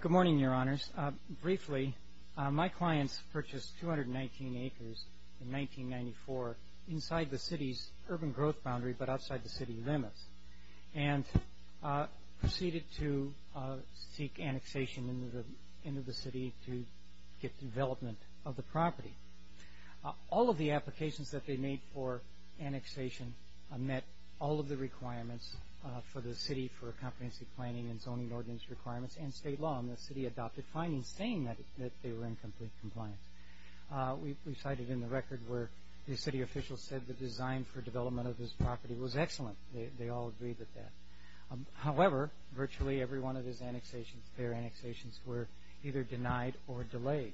Good morning, Your Honors. Briefly, my clients purchased 219 acres in 1994 inside the city's urban growth boundary but outside the city limits and proceeded to seek annexation into the city to get development of the property. All of the applications that they made for annexation met all of the requirements for the city for a comprehensive planning and zoning ordinance requirements and state law and the city adopted findings saying that they were in complete compliance. We cited in the record where the city officials said the design for development of this property was excellent. They all agreed with that. However, virtually every one of their annexations were either denied or delayed.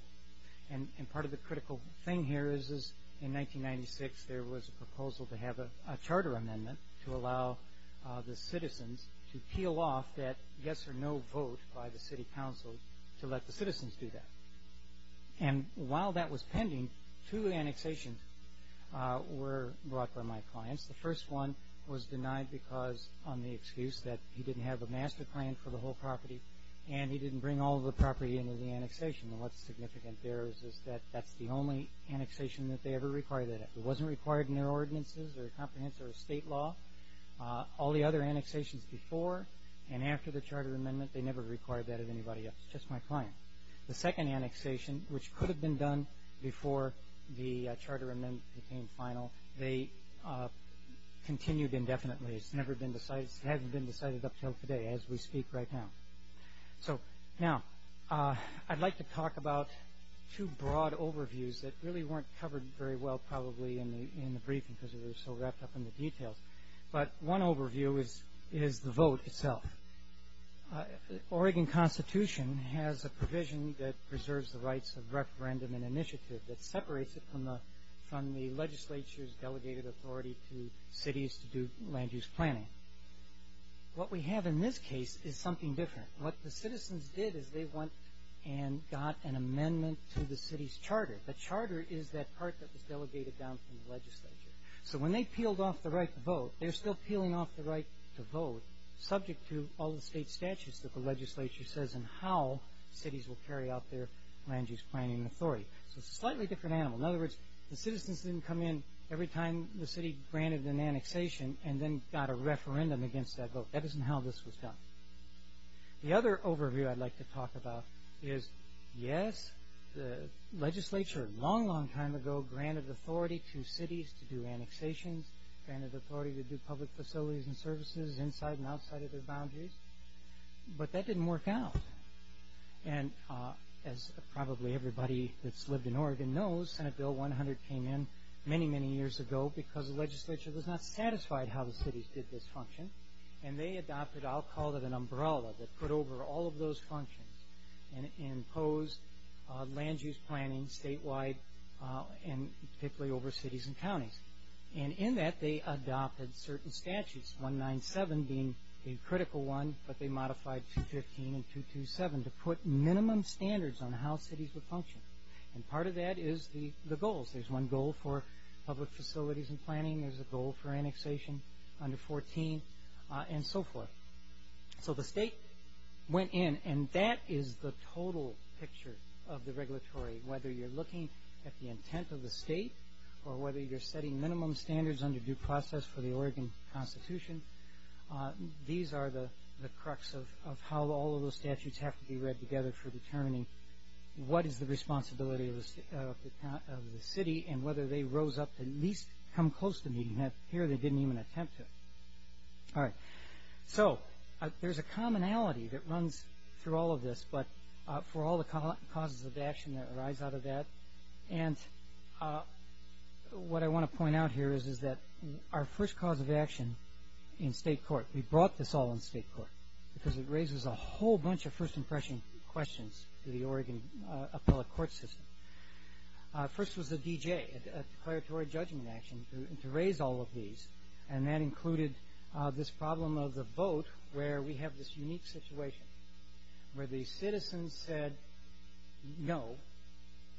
And part of the critical thing here is in 1996 there was a proposal to have a charter amendment to allow the citizens to peel off that yes or no vote by the city council to let the citizens do that. And while that was pending, two annexations were brought by my clients. The first one was denied because on the excuse that he didn't have a master plan for the whole property and he didn't bring all of the property into the annexation. And what's significant there is that that's the only annexation that they ever required. It wasn't required in their ordinances or comprehensive state law. All the other annexations before and after the charter amendment, they never required that of anybody else, just my client. The second annexation, which could have been done before the charter amendment became final, they continued indefinitely. It's never been decided. It hasn't been decided up until today as we speak right now. So now I'd like to talk about two broad overviews that really weren't covered very well probably in the briefing because they were so wrapped up in the details. But one overview is the vote itself. Oregon Constitution has a provision that preserves the rights of referendum and initiative that separates it from the legislature's delegated authority to cities to do land use planning. What we have in this case is something different. What the citizens did is they went and got an amendment to the city's charter. The charter is that part that was delegated down from the legislature. So when they peeled off the right to vote, they're still peeling off the right to vote, subject to all the state statutes that the legislature says and how cities will carry out their land use planning authority. So it's a slightly different animal. In other words, the citizens didn't come in every time the city granted an annexation and then got a referendum against that vote. That isn't how this was done. The other overview I'd like to talk about is, yes, the legislature a long, long time ago granted authority to cities to do annexations, granted authority to do public facilities and services inside and outside of their boundaries, but that didn't work out. And as probably everybody that's lived in Oregon knows, Senate Bill 100 came in many, many years ago because the legislature was not satisfied how the cities did this function, and they adopted what I'll call an umbrella that put over all of those functions and imposed land use planning statewide and particularly over cities and counties. And in that, they adopted certain statutes, 197 being a critical one, but they modified 215 and 227 to put minimum standards on how cities would function. And part of that is the goals. There's one goal for public facilities and planning, there's a goal for annexation under 14, and so forth. So the state went in, and that is the total picture of the regulatory, whether you're looking at the intent of the state or whether you're setting minimum standards under due process for the Oregon Constitution, these are the crux of how all of those statutes have to be read together for determining what is the responsibility of the city and whether they rose up to at least come close to meeting that. Here, they didn't even attempt to. So there's a commonality that runs through all of this, but for all the causes of action that arise out of that, and what I want to point out here is that our first cause of action in state court, we brought this all in state court because it raises a whole bunch of first impression questions to the Oregon appellate court system. First was the D.J., a declaratory judging action, to raise all of these, and that included this problem of the vote where we have this unique situation where the citizens said no.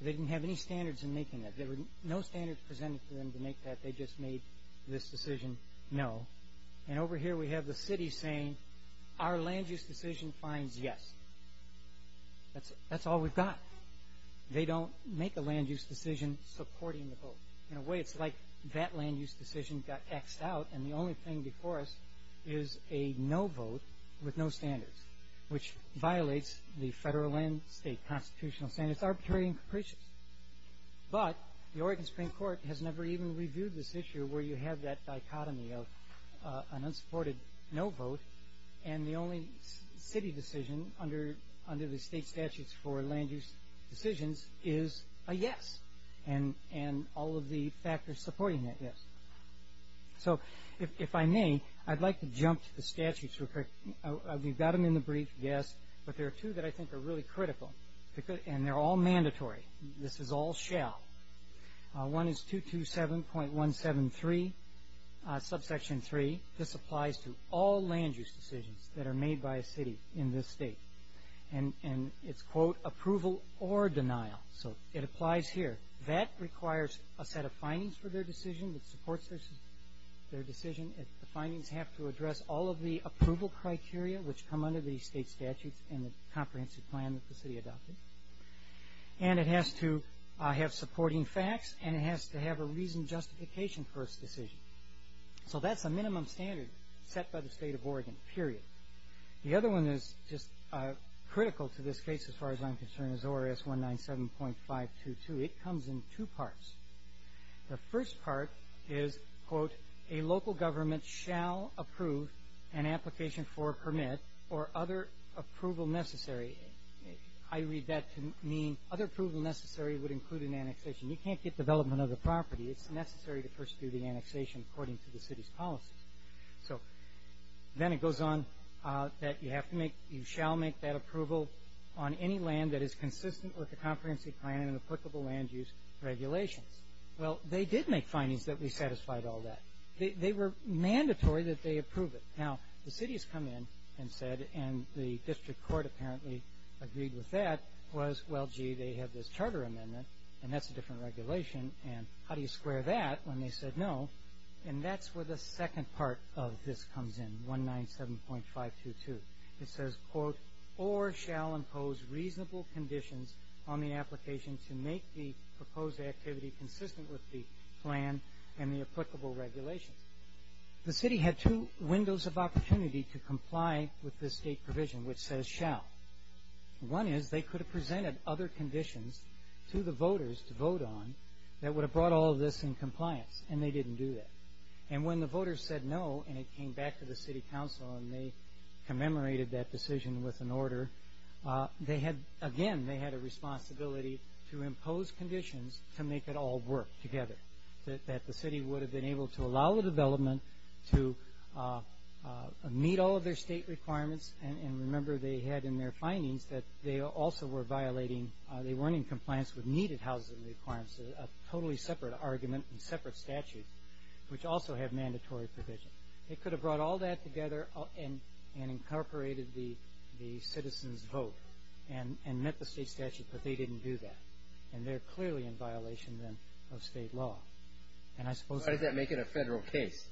They didn't have any standards in making that. There were no standards presented to them to make that. They just made this decision no, and over here we have the city saying our land use decision finds yes. That's all we've got. They don't make a land use decision supporting the vote. In a way, it's like that land use decision got X'd out, and the only thing before us is a no vote with no standards, which violates the federal and state constitutional standards, arbitrary and capricious, but the Oregon Supreme Court has never even reviewed this issue where you have that dichotomy of an unsupported no vote, and the only city decision under the state statutes for land use decisions is a yes, and all of the factors supporting that yes. So if I may, I'd like to jump to the statutes real quick. We've got them in the brief, yes, but there are two that I think are really critical, and they're all mandatory. This is all shall. One is 227.173, subsection 3. This applies to all land use decisions that are made by a city in this state, and it's, quote, approval or denial, so it applies here. That requires a set of findings for their decision that supports their decision. The findings have to address all of the approval criteria which come under the state statutes and the comprehensive plan that the city adopted, and it has to have supporting facts, and it has to have a reasoned justification for its decision. So that's a minimum standard set by the state of Oregon, period. The other one that is just critical to this case as far as I'm concerned is ORS 197.522. It comes in two parts. The first part is, quote, a local government shall approve an application for a permit or other approval necessary. I read that to mean other approval necessary would include an annexation. You can't get development of the property. It's necessary to first do the annexation according to the city's policies. So then it goes on that you shall make that approval on any land that is consistent with the comprehensive plan and applicable land use regulations. Well, they did make findings that we satisfied all that. They were mandatory that they approve it. Now, the city has come in and said, and the district court apparently agreed with that, was, well, gee, they have this charter amendment, and that's a different regulation, and how do you square that when they said no? And that's where the second part of this comes in, 197.522. It says, quote, OR shall impose reasonable conditions on the application to make the proposed activity consistent with the plan and the applicable regulations. The city had two windows of opportunity to comply with this state provision, which says shall. One is they could have presented other conditions to the voters to vote on that would have brought all of this in compliance, and they didn't do that. And when the voters said no and it came back to the city council and they commemorated that decision with an order, again they had a responsibility to impose conditions to make it all work together, that the city would have been able to allow the development to meet all of their state requirements, and remember they had in their findings that they also were violating, they weren't in compliance with needed housing requirements, which is a totally separate argument and separate statute, which also have mandatory provisions. They could have brought all that together and incorporated the citizens' vote and met the state statute, but they didn't do that. And they're clearly in violation then of state law. And I suppose... Why does that make it a federal case?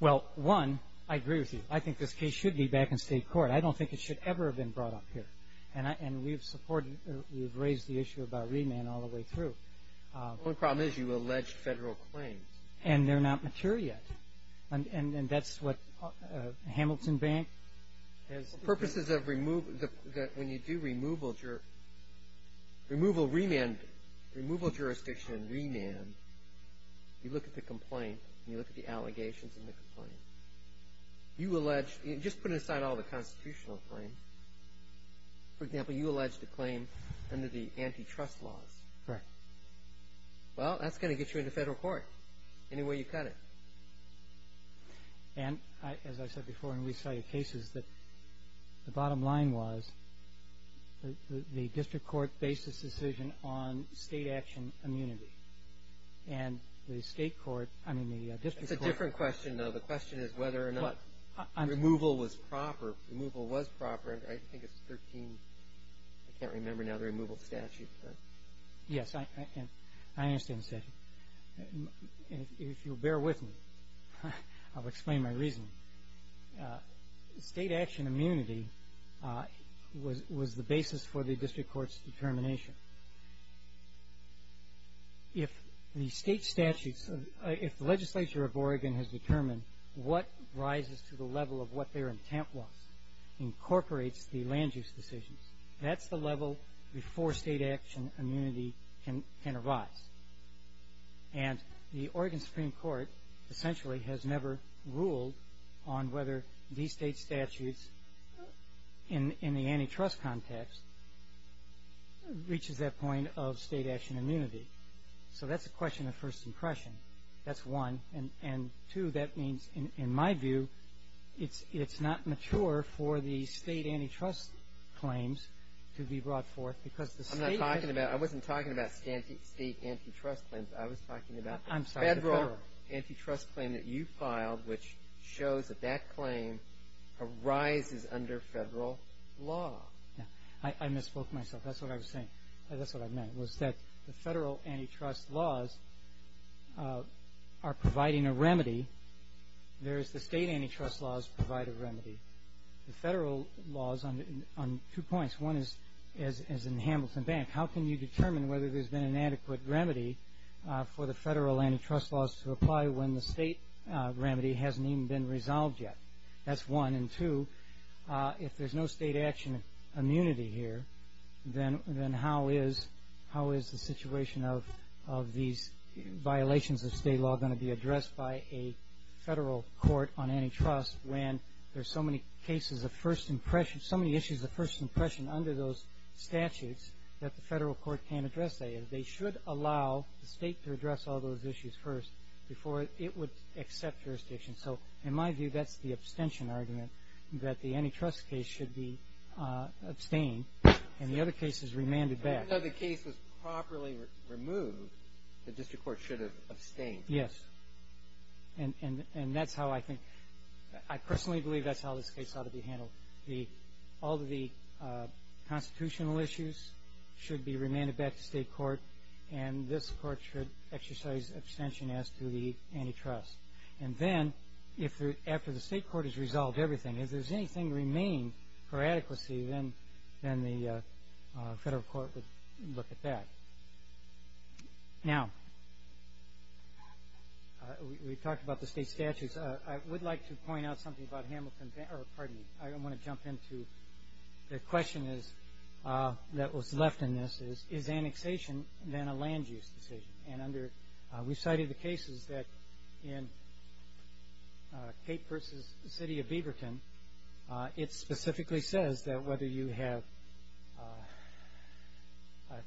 Well, one, I agree with you. I think this case should be back in state court. I don't think it should ever have been brought up here. And we've supported, we've raised the issue about remand all the way through. The only problem is you allege federal claims. And they're not mature yet. And that's what Hamilton Bank has... For purposes of removal, when you do removal, removal remand, removal jurisdiction remand, you look at the complaint and you look at the allegations in the complaint. You allege, just put it aside all the constitutional claims. For example, you allege the claim under the antitrust laws. Correct. Well, that's going to get you into federal court any way you cut it. And as I said before when we cited cases, the bottom line was the district court based this decision on state action immunity. And the state court, I mean the district court... It's a different question though. The question is whether or not removal was proper. Removal was proper. I think it's 13, I can't remember now the removal statute. Yes, I understand the statute. If you'll bear with me, I'll explain my reasoning. State action immunity was the basis for the district court's determination. If the legislature of Oregon has determined what rises to the level of what their intent was, incorporates the land use decisions, that's the level before state action immunity can arise. And the Oregon Supreme Court essentially has never ruled on whether these state statutes in the antitrust context reaches that point of state action immunity. So that's a question of first impression. That's one. And two, that means in my view it's not mature for the state antitrust claims to be brought forth because the state... I'm not talking about, I wasn't talking about state antitrust claims. I was talking about the federal antitrust claim that you filed, which shows that that claim arises under federal law. I misspoke myself. That's what I was saying. That's what I meant was that the federal antitrust laws are providing a remedy. Whereas the state antitrust laws provide a remedy. The federal laws on two points. One is in Hamilton Bank. How can you determine whether there's been an adequate remedy for the federal antitrust laws to apply when the state remedy hasn't even been resolved yet? That's one. And two, if there's no state action immunity here, then how is the situation of these violations of state law going to be addressed by a federal court on antitrust when there's so many cases of first impression, so many issues of first impression under those statutes that the federal court can't address? What I'm trying to say is they should allow the state to address all those issues first before it would accept jurisdiction. So in my view, that's the abstention argument, that the antitrust case should be abstained and the other cases remanded back. Even though the case was properly removed, the district court should have abstained. Yes. And that's how I think, I personally believe that's how this case ought to be handled. All of the constitutional issues should be remanded back to state court and this court should exercise abstention as to the antitrust. And then, after the state court has resolved everything, if there's anything remaining for adequacy, then the federal court would look at that. Now, we talked about the state statutes. I would like to point out something about Hamilton- pardon me, I want to jump into the question that was left in this, is annexation then a land use decision? And we cited the cases that in Cape versus the city of Beaverton, it specifically says that whether you have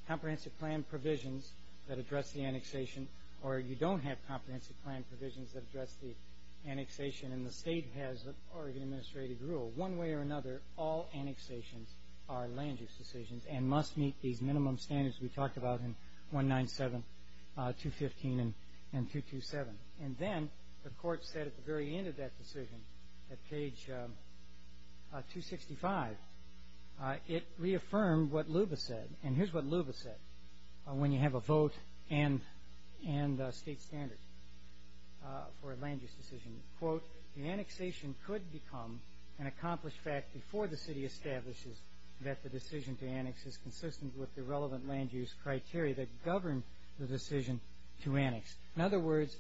comprehensive plan provisions that address the annexation or you don't have comprehensive plan provisions that address the annexation and the state has the Oregon Administrative Rule, one way or another, all annexations are land use decisions and must meet these minimum standards we talked about in 197, 215, and 227. And then the court said at the very end of that decision, at page 265, it reaffirmed what Luba said, and here's what Luba said. When you have a vote and a state standard for a land use decision, quote, the annexation could become an accomplished fact before the city establishes that the decision to annex is consistent with the relevant land use criteria that govern the decision to annex. In other words,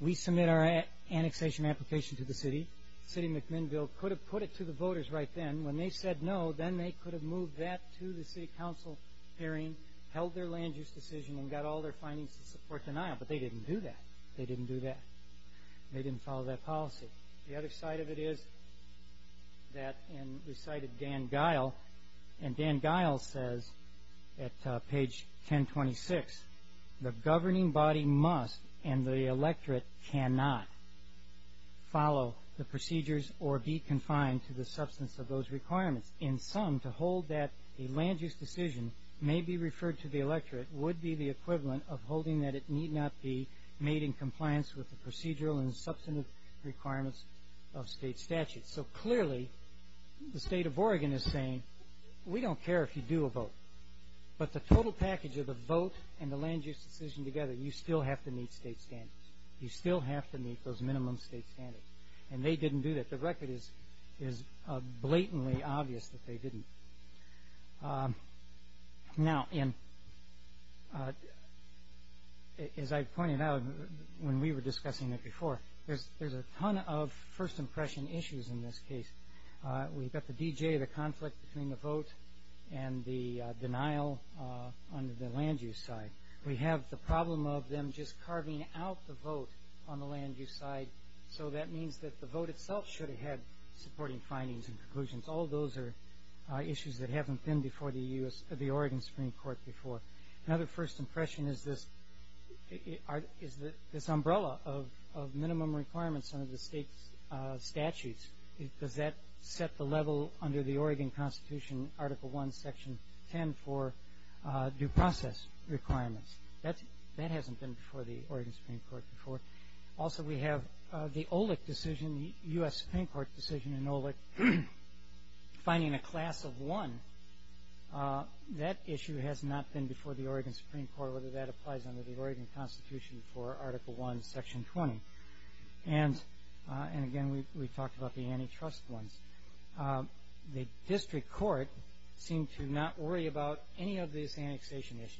we submit our annexation application to the city, the city of McMinnville could have put it to the voters right then. When they said no, then they could have moved that to the city council hearing, held their land use decision, and got all their findings to support denial, but they didn't do that. They didn't do that. They didn't follow that policy. The other side of it is that, and recited Dan Guile, and Dan Guile says at page 1026, the governing body must and the electorate cannot follow the procedures or be confined to the substance of those requirements. In sum, to hold that a land use decision may be referred to the electorate would be the equivalent of holding that it need not be made in compliance with the procedural and substantive requirements of state statutes. So clearly the state of Oregon is saying we don't care if you do a vote, but the total package of the vote and the land use decision together, you still have to meet state standards. You still have to meet those minimum state standards, and they didn't do that. The record is blatantly obvious that they didn't. Now, as I pointed out when we were discussing it before, there's a ton of first impression issues in this case. We've got the D.J., the conflict between the vote and the denial under the land use side. We have the problem of them just carving out the vote on the land use side, so that means that the vote itself should have had supporting findings and conclusions. All those are issues that haven't been before the Oregon Supreme Court before. Another first impression is this umbrella of minimum requirements under the state statutes. Does that set the level under the Oregon Constitution, Article I, Section 10, for due process requirements? That hasn't been before the Oregon Supreme Court before. Also, we have the OLEC decision, the U.S. Supreme Court decision in OLEC, finding a class of one. That issue has not been before the Oregon Supreme Court, whether that applies under the Oregon Constitution for Article I, Section 20. And, again, we talked about the antitrust ones. The district court seemed to not worry about any of these annexation issues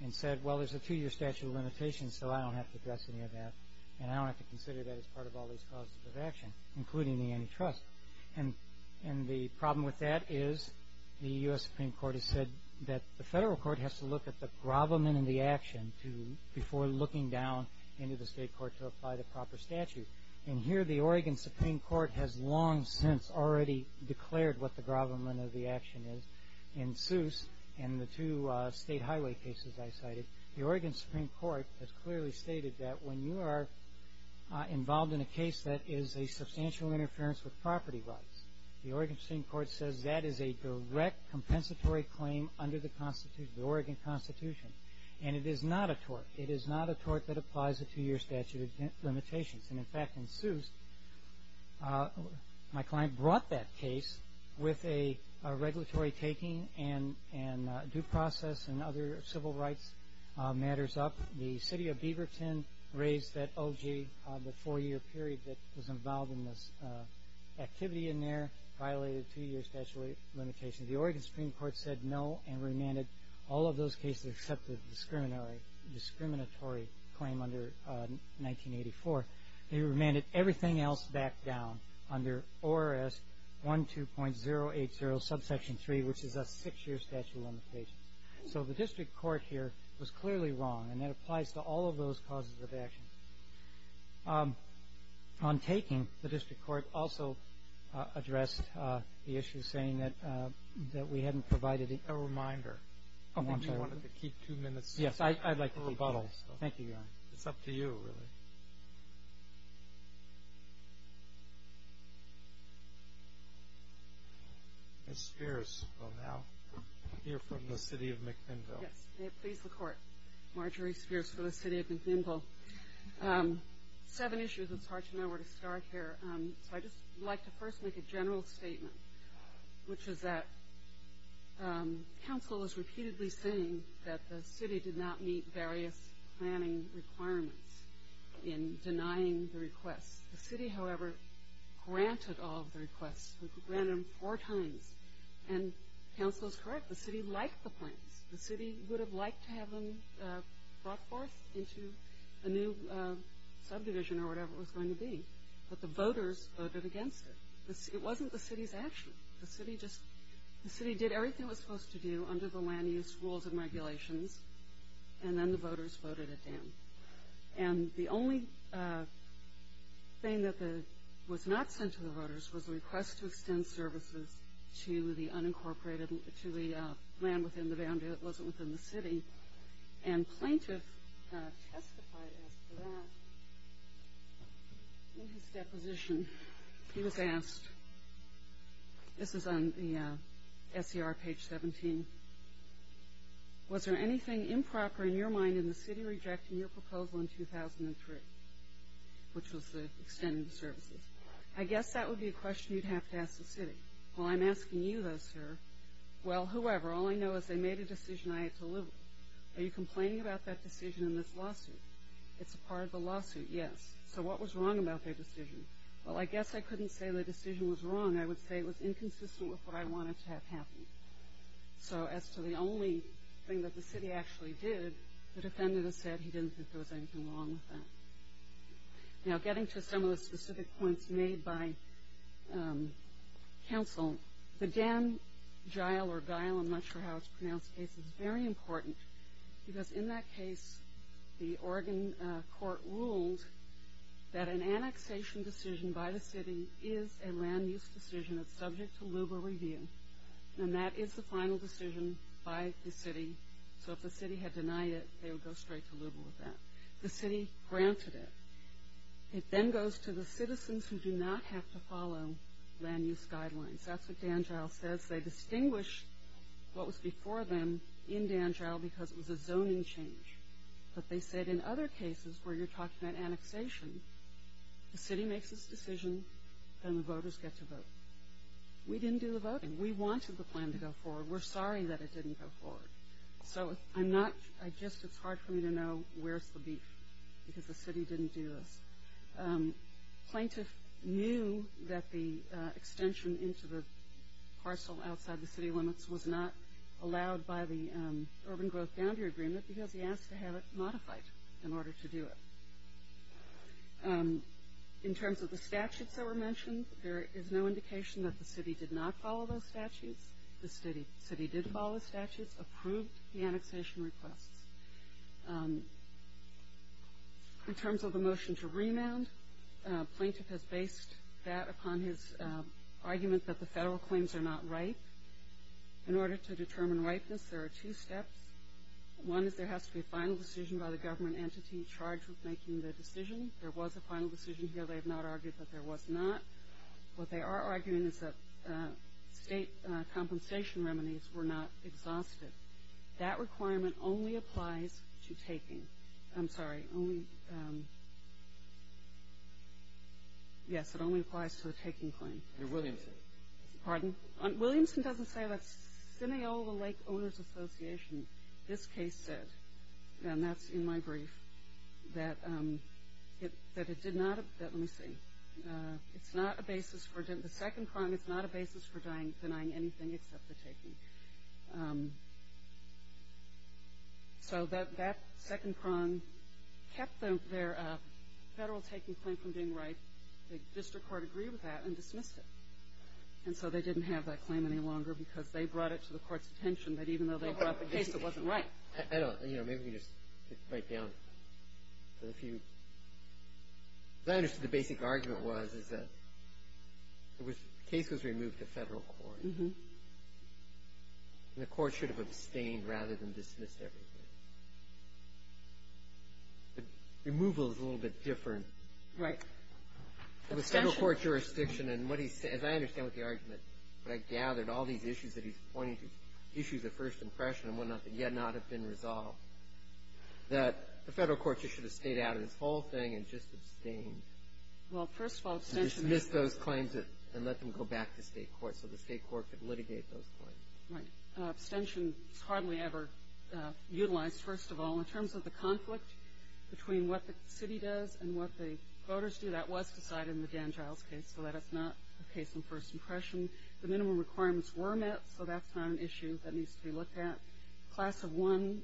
and said, well, there's a two-year statute of limitations, so I don't have to address any of that, and I don't have to consider that as part of all these clauses of action, including the antitrust. And the problem with that is the U.S. Supreme Court has said that the federal court has to look at the gravamen in the action before looking down into the state court to apply the proper statute. And here the Oregon Supreme Court has long since already declared what the gravamen of the action is. In Seuss and the two state highway cases I cited, the Oregon Supreme Court has clearly stated that when you are involved in a case that is a substantial interference with property rights, the Oregon Supreme Court says that is a direct compensatory claim under the Oregon Constitution. And it is not a tort. It is not a tort that applies a two-year statute of limitations. And, in fact, in Seuss, my client brought that case with a regulatory taking and due process and other civil rights matters up. The city of Beaverton raised that OG, the four-year period that was involved in this activity in there, violated a two-year statute of limitations. The Oregon Supreme Court said no and remanded all of those cases except the discriminatory claim under 1984. They remanded everything else back down under ORS 12.080 subsection 3, which is a six-year statute of limitations. So the district court here was clearly wrong, and that applies to all of those causes of action. On taking, the district court also addressed the issue, saying that we hadn't provided a reminder. I think you wanted to keep two minutes. Yes, I'd like to rebuttal. Thank you, Your Honor. It's up to you, really. Ms. Spears will now hear from the city of McNinville. Yes. Please, the Court. Marjorie Spears for the city of McNinville. Seven issues. It's hard to know where to start here. So I'd just like to first make a general statement, which is that counsel is repeatedly saying that the city did not meet various planning requirements in denying the requests. The city, however, granted all of the requests. We granted them four times, and counsel is correct. The city liked the plans. The city would have liked to have them brought forth into a new subdivision or whatever it was going to be. But the voters voted against it. It wasn't the city's action. The city did everything it was supposed to do under the land use rules and regulations, and then the voters voted it down. And the only thing that was not sent to the voters was a request to extend services to the land within the boundary that wasn't within the city. And plaintiff testified as to that. In his deposition, he was asked, this is on the SCR page 17, was there anything improper in your mind in the city rejecting your proposal in 2003, which was to extend services? I guess that would be a question you'd have to ask the city. Well, I'm asking you, though, sir. Well, whoever, all I know is they made a decision I had to live with. Are you complaining about that decision in this lawsuit? It's a part of the lawsuit, yes. So what was wrong about their decision? Well, I guess I couldn't say the decision was wrong. I would say it was inconsistent with what I wanted to have happen. So as to the only thing that the city actually did, the defendant has said he didn't think there was anything wrong with that. Now, getting to some of the specific points made by counsel, the Dan-Gile or Gile, I'm not sure how it's pronounced, case is very important because in that case, the Oregon court ruled that an annexation decision by the city is a land use decision that's subject to LUBA review, and that is the final decision by the city. So if the city had denied it, they would go straight to LUBA with that. The city granted it. It then goes to the citizens who do not have to follow land use guidelines. That's what Dan-Gile says. They distinguish what was before them in Dan-Gile because it was a zoning change. But they said in other cases where you're talking about annexation, the city makes its decision and the voters get to vote. We didn't do the voting. We wanted the plan to go forward. We're sorry that it didn't go forward. So I'm not, I just, it's hard for me to know where's the beef because the city didn't do this. Plaintiff knew that the extension into the parcel outside the city limits was not allowed by the urban growth boundary agreement because he asked to have it modified in order to do it. In terms of the statutes that were mentioned, there is no indication that the city did not follow those statutes. The city did follow the statutes, approved the annexation requests. In terms of the motion to remand, plaintiff has based that upon his argument that the federal claims are not ripe. In order to determine ripeness, there are two steps. One is there has to be a final decision by the government entity charged with making the decision. There was a final decision here. They have not argued that there was not. What they are arguing is that state compensation remedies were not exhausted. That requirement only applies to taking. I'm sorry, only, yes, it only applies to the taking claim. Your Williamson. Pardon? Williamson doesn't say that Sineola Lake Owners Association, this case said, and that's in my brief, that it did not, let me see. It's not a basis for, the second prong, it's not a basis for denying anything except the taking. So that second prong kept their federal taking claim from being ripe. The district court agreed with that and dismissed it. And so they didn't have that claim any longer because they brought it to the court's attention that even though they brought the case, it wasn't ripe. I don't, you know, maybe we can just write down a few. As I understood, the basic argument was, is that the case was removed to federal court. And the court should have abstained rather than dismissed everything. But removal is a little bit different. Right. The federal court jurisdiction and what he said, as I understand what the argument, but I gathered all these issues that he's pointing to, issues of first impression and whatnot that yet not have been resolved, that the federal court should have stayed out of this whole thing and just abstained. Well, first of all, abstention. And dismissed those claims and let them go back to state court so the state court could litigate those claims. Right. Abstention is hardly ever utilized, first of all. In terms of the conflict between what the city does and what the voters do, that was decided in the Dan Giles case, so that it's not a case of first impression. The minimum requirements were met, so that's not an issue that needs to be looked at. Class of one,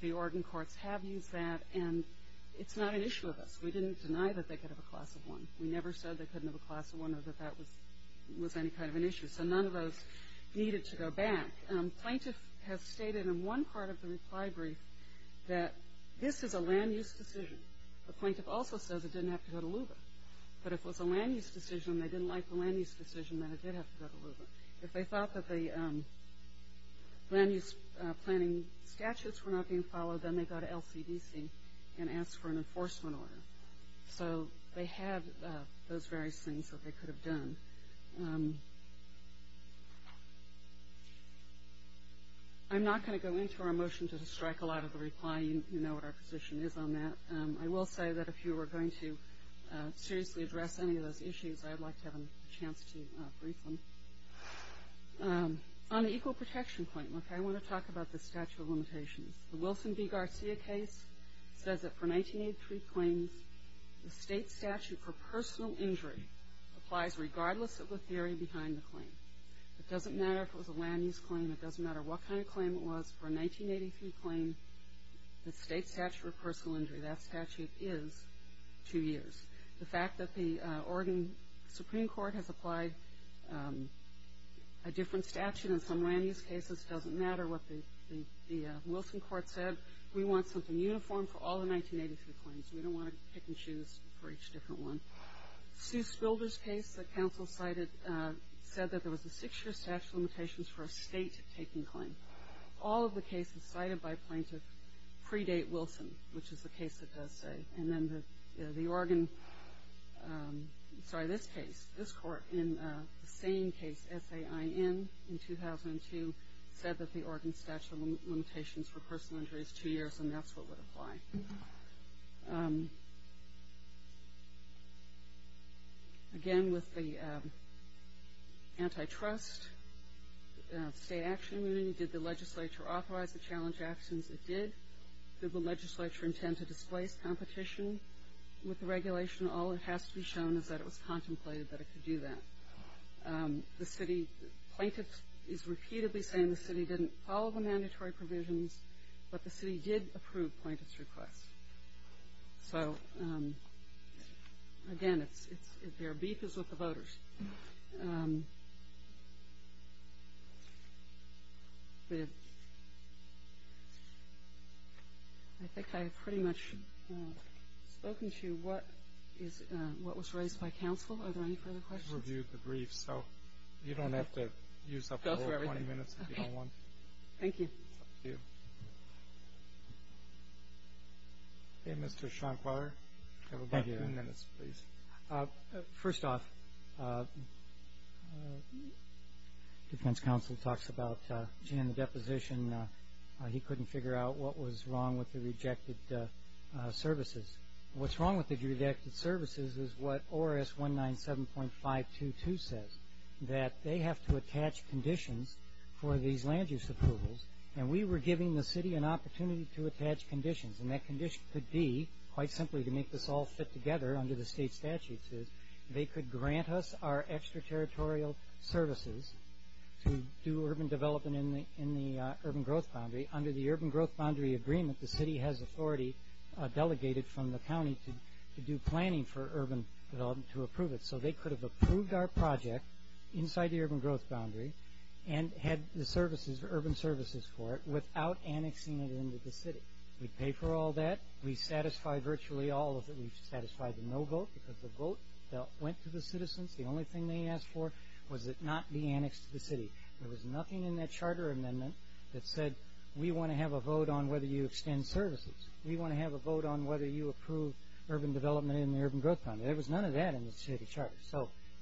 the Oregon courts have used that. And it's not an issue of us. We didn't deny that they could have a class of one. We never said they couldn't have a class of one or that that was any kind of an issue. So none of those needed to go back. Plaintiff has stated in one part of the reply brief that this is a land use decision. The plaintiff also says it didn't have to go to LUVA. But if it was a land use decision and they didn't like the land use decision, then it did have to go to LUVA. If they thought that the land use planning statutes were not being followed, then they go to LCDC and ask for an enforcement order. So they had those various things that they could have done. I'm not going to go into our motion to strike a lot of the reply. You know what our position is on that. I will say that if you were going to seriously address any of those issues, I'd like to have a chance to briefly. On the equal protection claim, I want to talk about the statute of limitations. The Wilson v. Garcia case says that for 1983 claims, the state statute for personal injury applies regardless of the theory behind the claim. It doesn't matter if it was a land use claim. It doesn't matter what kind of claim it was. For a 1983 claim, the state statute for personal injury, that statute is two years. The fact that the Oregon Supreme Court has applied a different statute in some land use cases doesn't matter what the Wilson court said. We want something uniform for all the 1983 claims. We don't want to be picking shoes for each different one. Sue Spilder's case that counsel cited said that there was a six-year statute of limitations for a state taking claim. All of the cases cited by plaintiffs predate Wilson, which is the case it does say. And then the Oregon, sorry, this case, this court in the same case, SAIN in 2002, said that the Oregon statute of limitations for personal injury is two years, and that's what would apply. Okay. Again, with the antitrust, state action immunity, did the legislature authorize the challenge actions? It did. Did the legislature intend to displace competition with the regulation? All that has to be shown is that it was contemplated that it could do that. The city plaintiffs is repeatedly saying the city didn't follow the mandatory provisions, but the city did approve plaintiffs' requests. So, again, their beef is with the voters. I think I have pretty much spoken to what was raised by counsel. Are there any further questions? I just reviewed the brief, so you don't have to use up the whole 20 minutes if you don't want to. Thank you. Thank you. Mr. Schonkweiler, you have about three minutes, please. First off, defense counsel talks about, again, the deposition. He couldn't figure out what was wrong with the rejected services. What's wrong with the rejected services is what ORS 197.522 says, that they have to attach conditions for these land use approvals, and we were giving the city an opportunity to attach conditions, and that condition could be, quite simply, to make this all fit together under the state statutes, is they could grant us our extraterritorial services to do urban development in the urban growth boundary. The city has authority delegated from the county to do planning for urban development to approve it, so they could have approved our project inside the urban growth boundary and had the services, urban services for it, without annexing it into the city. We'd pay for all that. We'd satisfy virtually all of it. We'd satisfy the no vote because the vote went to the citizens. The only thing they asked for was it not be annexed to the city. There was nothing in that charter amendment that said, we want to have a vote on whether you extend services. We want to have a vote on whether you approve urban development in the urban growth boundary. There was none of that in the city charter.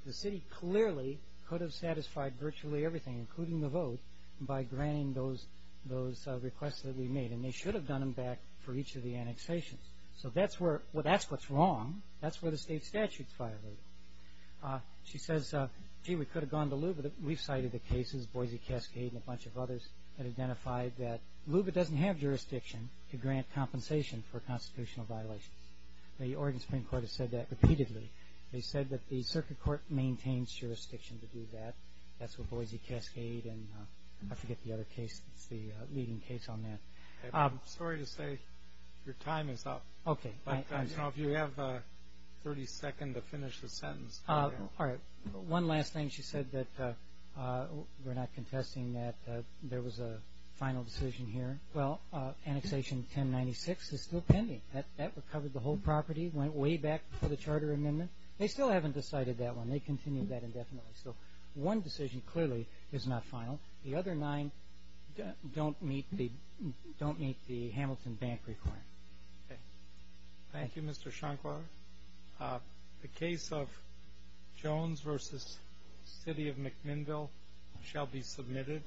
The city clearly could have satisfied virtually everything, including the vote, by granting those requests that we made, and they should have done them back for each of the annexations. That's what's wrong. That's where the state statute's violated. She says, gee, we could have gone to lieu, but we've cited the cases, Boise Cascade and a bunch of others, that identified that LUBA doesn't have jurisdiction to grant compensation for constitutional violations. The Oregon Supreme Court has said that repeatedly. They said that the circuit court maintains jurisdiction to do that. That's with Boise Cascade, and I forget the other case. It's the leading case on that. I'm sorry to say your time is up. Okay. If you have 30 seconds to finish the sentence. All right. One last thing. She said that we're not contesting that there was a final decision here. Well, annexation 1096 is still pending. That recovered the whole property, went way back to the charter amendment. They still haven't decided that one. They continue that indefinitely. So one decision clearly is not final. The other nine don't meet the Hamilton bank requirement. Okay. Thank you, Mr. Shankwar. The case of Jones versus city of McMinnville shall be submitted.